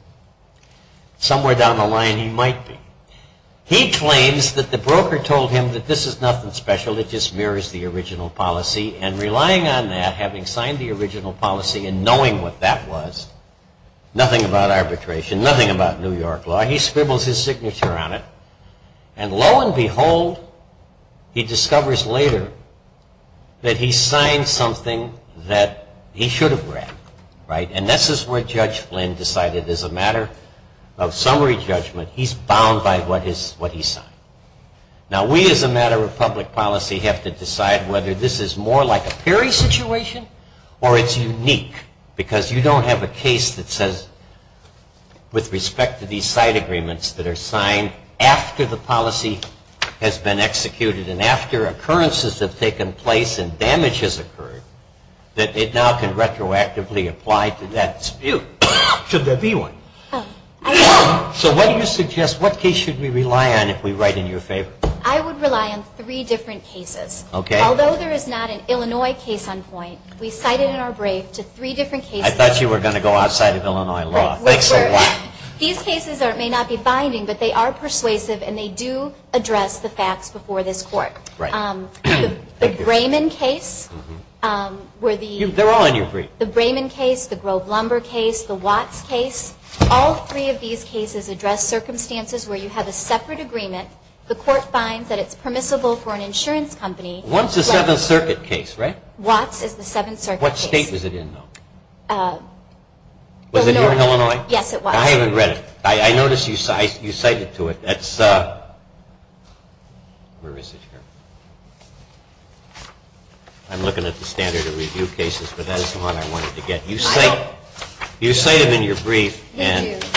Somewhere down the line he might be. He claims that the broker told him that this is nothing special. It just mirrors the original policy. And relying on that, having signed the original policy and knowing what that was, nothing about arbitration, nothing about New York law, he scribbles his signature on it. And lo and behold, he discovers later that he signed something that he should have read, right? And this is where Judge Flynn decided as a matter of summary judgment, he's bound by what he signed. Now, we as a matter of public policy have to decide whether this is more like a Perry situation or it's unique because you don't have a case that says, with respect to these side agreements that are signed after the policy has been executed and after occurrences have taken place and damage has occurred, that it now can retroactively apply to that dispute. Should there be one? So what do you suggest? What case should we rely on if we write in your favor? I would rely on three different cases. Okay. Although there is not an Illinois case on point, we cited in our brief to three different cases. I thought you were going to go outside of Illinois law. Thanks a lot. These cases may not be binding, but they are persuasive and they do address the facts before this court. Right. The Brayman case where the- They're all in your brief. The Brayman case, the Grove Lumber case, the Watts case, all three of these cases address circumstances where you have a separate agreement. The court finds that it's permissible for an insurance company- Watts is the Seventh Circuit case, right? Watts is the Seventh Circuit case. What state is it in, though? Was it in Illinois? Yes, it was. I haven't read it. I noticed you cited to it. That's- Where is it here? I'm looking at the standard of review cases, but that is the one I wanted to get. You cite it in your brief. Thank you.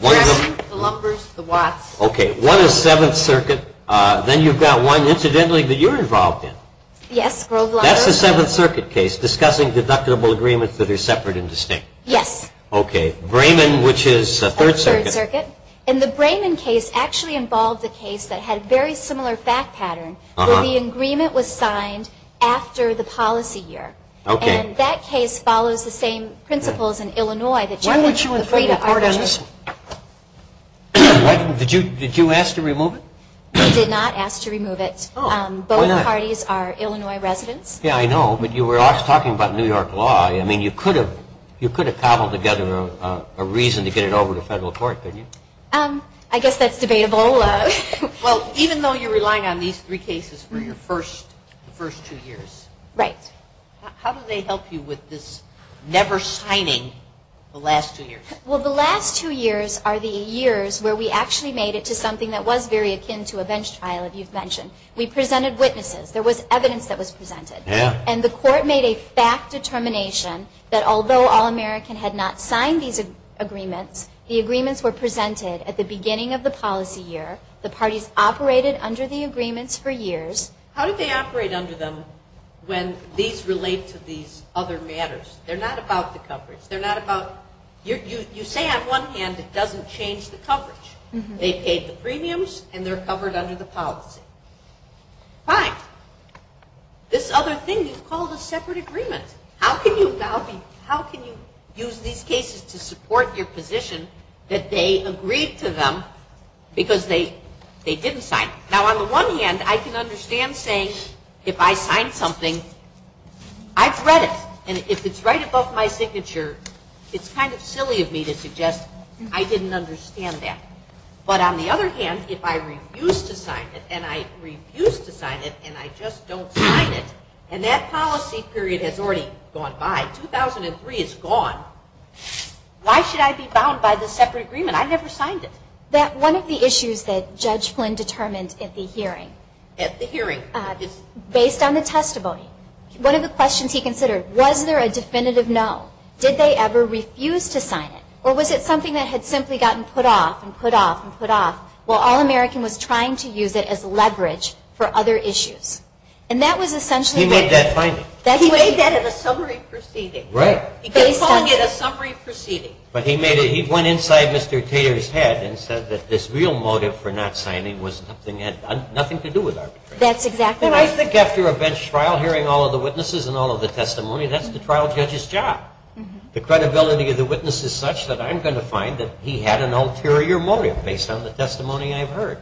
Brayman, the Lumbers, the Watts. Okay. One is Seventh Circuit. Then you've got one, incidentally, that you're involved in. Yes, Grove Lumber. That's the Seventh Circuit case discussing deductible agreements that are separate and distinct. Yes. Okay. Brayman, which is Third Circuit. Third Circuit. And the Brayman case actually involved a case that had a very similar fact pattern, where the agreement was signed after the policy year. Okay. And that case follows the same principles in Illinois. Why don't you- Did you ask to remove it? We did not ask to remove it. Both parties are Illinois residents. Yes, I know, but you were also talking about New York law. I mean, you could have cobbled together a reason to get it over to federal court, couldn't you? I guess that's debatable. Well, even though you're relying on these three cases for your first two years- Right. How do they help you with this never signing the last two years? Well, the last two years are the years where we actually made it to something that was very akin to a bench trial, as you've mentioned. We presented witnesses. There was evidence that was presented. Yes. And the court made a fact determination that although All-American had not signed these agreements, the agreements were presented at the beginning of the policy year. The parties operated under the agreements for years. How did they operate under them when these relate to these other matters? They're not about the coverage. They're not about- You say on one hand it doesn't change the coverage. They paid the premiums, and they're covered under the policy. Fine. This other thing you've called a separate agreement. How can you use these cases to support your position that they agreed to them because they didn't sign? Now, on the one hand, I can understand saying if I signed something, I've read it, and if it's right above my signature, it's kind of silly of me to suggest I didn't understand that. But on the other hand, if I refuse to sign it, and I refuse to sign it, and I just don't sign it, and that policy period has already gone by, 2003 is gone, why should I be bound by this separate agreement? I never signed it. One of the issues that Judge Flynn determined at the hearing- At the hearing. Based on the testimony, one of the questions he considered, was there a definitive no? Did they ever refuse to sign it? Or was it something that had simply gotten put off, and put off, and put off, while All-American was trying to use it as leverage for other issues? And that was essentially- He made that finding. He made that in a summary proceeding. Right. He called it a summary proceeding. But he went inside Mr. Tater's head and said that this real motive for not signing was nothing to do with arbitration. That's exactly right. And I think after a bench trial, hearing all of the witnesses and all of the testimony, that's the trial judge's job. The credibility of the witness is such that I'm going to find that he had an ulterior motive based on the testimony I've heard.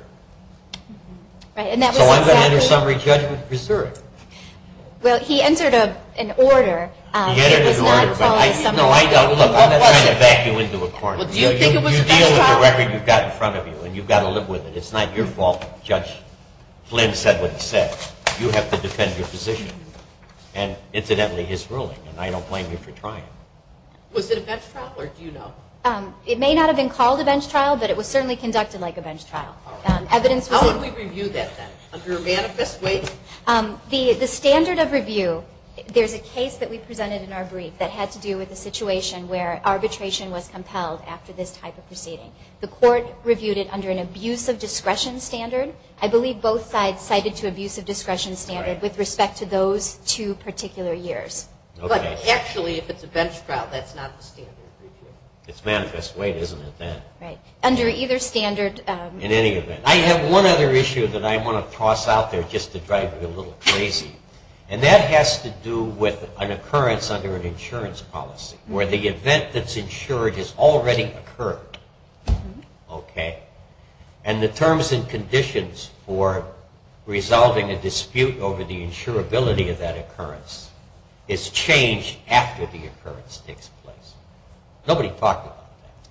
Right, and that was- So I'm going to enter summary judgment preserved. Well, he entered an order. He entered an order. It was not following- No, I don't. I'm not trying to back you into a corner. Well, do you think it was a bench trial? You deal with the record you've got in front of you, and you've got to live with it. It's not your fault Judge Flynn said what he said. You have to defend your position. And, incidentally, his ruling, and I don't blame you for trying. Was it a bench trial, or do you know? It may not have been called a bench trial, but it was certainly conducted like a bench trial. How would we review that then? Under a manifest way? The standard of review, there's a case that we presented in our brief that had to do with a situation where arbitration was compelled after this type of proceeding. The court reviewed it under an abuse of discretion standard. I believe both sides cited to abuse of discretion standard with respect to those two particular years. Okay. But, actually, if it's a bench trial, that's not the standard review. It's manifest way, isn't it, then? Right. Under either standard- In any event. I have one other issue that I want to toss out there just to drive you a little crazy. And that has to do with an occurrence under an insurance policy where the event that's insured has already occurred. Okay. And the terms and conditions for resolving a dispute over the insurability of that occurrence is changed after the occurrence takes place. Nobody talked about that.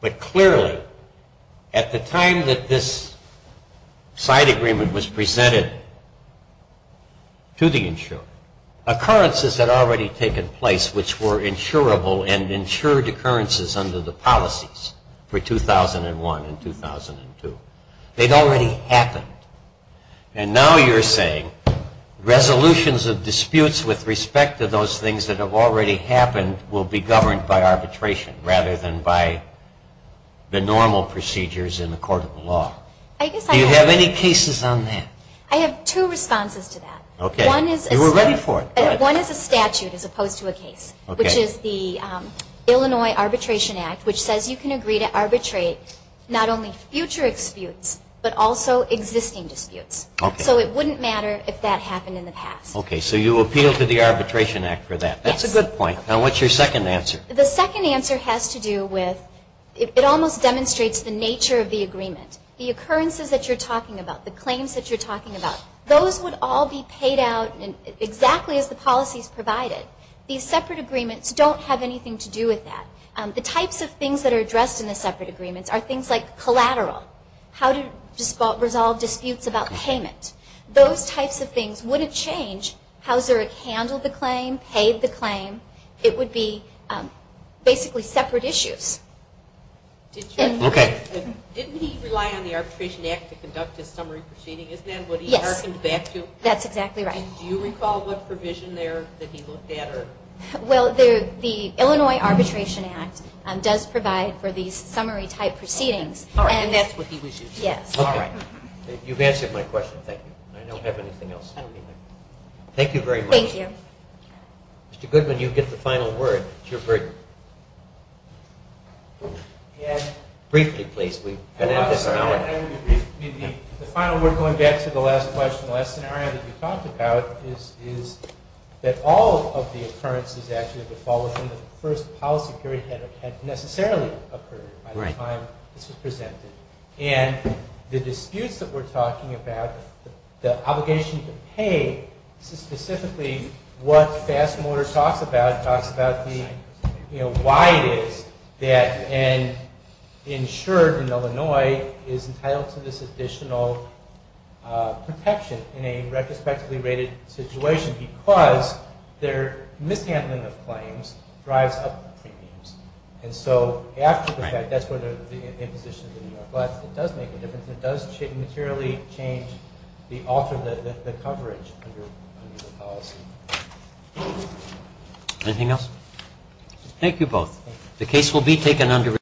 But, clearly, at the time that this side agreement was presented to the insurer, they'd already happened. And now you're saying resolutions of disputes with respect to those things that have already happened will be governed by arbitration, rather than by the normal procedures in the court of law. Do you have any cases on that? I have two responses to that. Okay. You were ready for it. One is a statute as opposed to a case. Okay. Which is the Illinois Arbitration Act, which says you can agree to arbitrate not only future disputes, but also existing disputes. Okay. So it wouldn't matter if that happened in the past. Okay. So you appeal to the Arbitration Act for that. Yes. That's a good point. Now, what's your second answer? The second answer has to do with it almost demonstrates the nature of the agreement. The occurrences that you're talking about, the claims that you're talking about, those would all be paid out exactly as the policies provided. These separate agreements don't have anything to do with that. The types of things that are addressed in the separate agreements are things like collateral, how to resolve disputes about payment. Those types of things wouldn't change how Zurich handled the claim, paid the claim. It would be basically separate issues. Okay. Didn't he rely on the Arbitration Act to conduct his summary proceeding? Isn't that what he harkened back to? Yes. That's exactly right. And do you recall what provision there that he looked at? Well, the Illinois Arbitration Act does provide for these summary type proceedings. All right. And that's what he was using. Yes. All right. You've answered my question. Thank you. I don't have anything else. Thank you very much. Thank you. Mr. Goodman, you get the final word. It's your break. Briefly, please. We've been at this an hour. The final word going back to the last question, the last scenario that you talked about is that all of the occurrences actually of the fall within the first policy period had necessarily occurred by the time this was presented. And the disputes that we're talking about, the obligation to pay, specifically what Fast Motor talks about, talks about why it is that an insured in Illinois is entitled to this additional protection in a retrospectively rated situation because their mishandling of claims drives up the premiums. And so after the fact, that's where the imposition of the New York law, it does make a difference. It does materially change the coverage under the policy. Anything else? Thank you both. The case will be taken under review.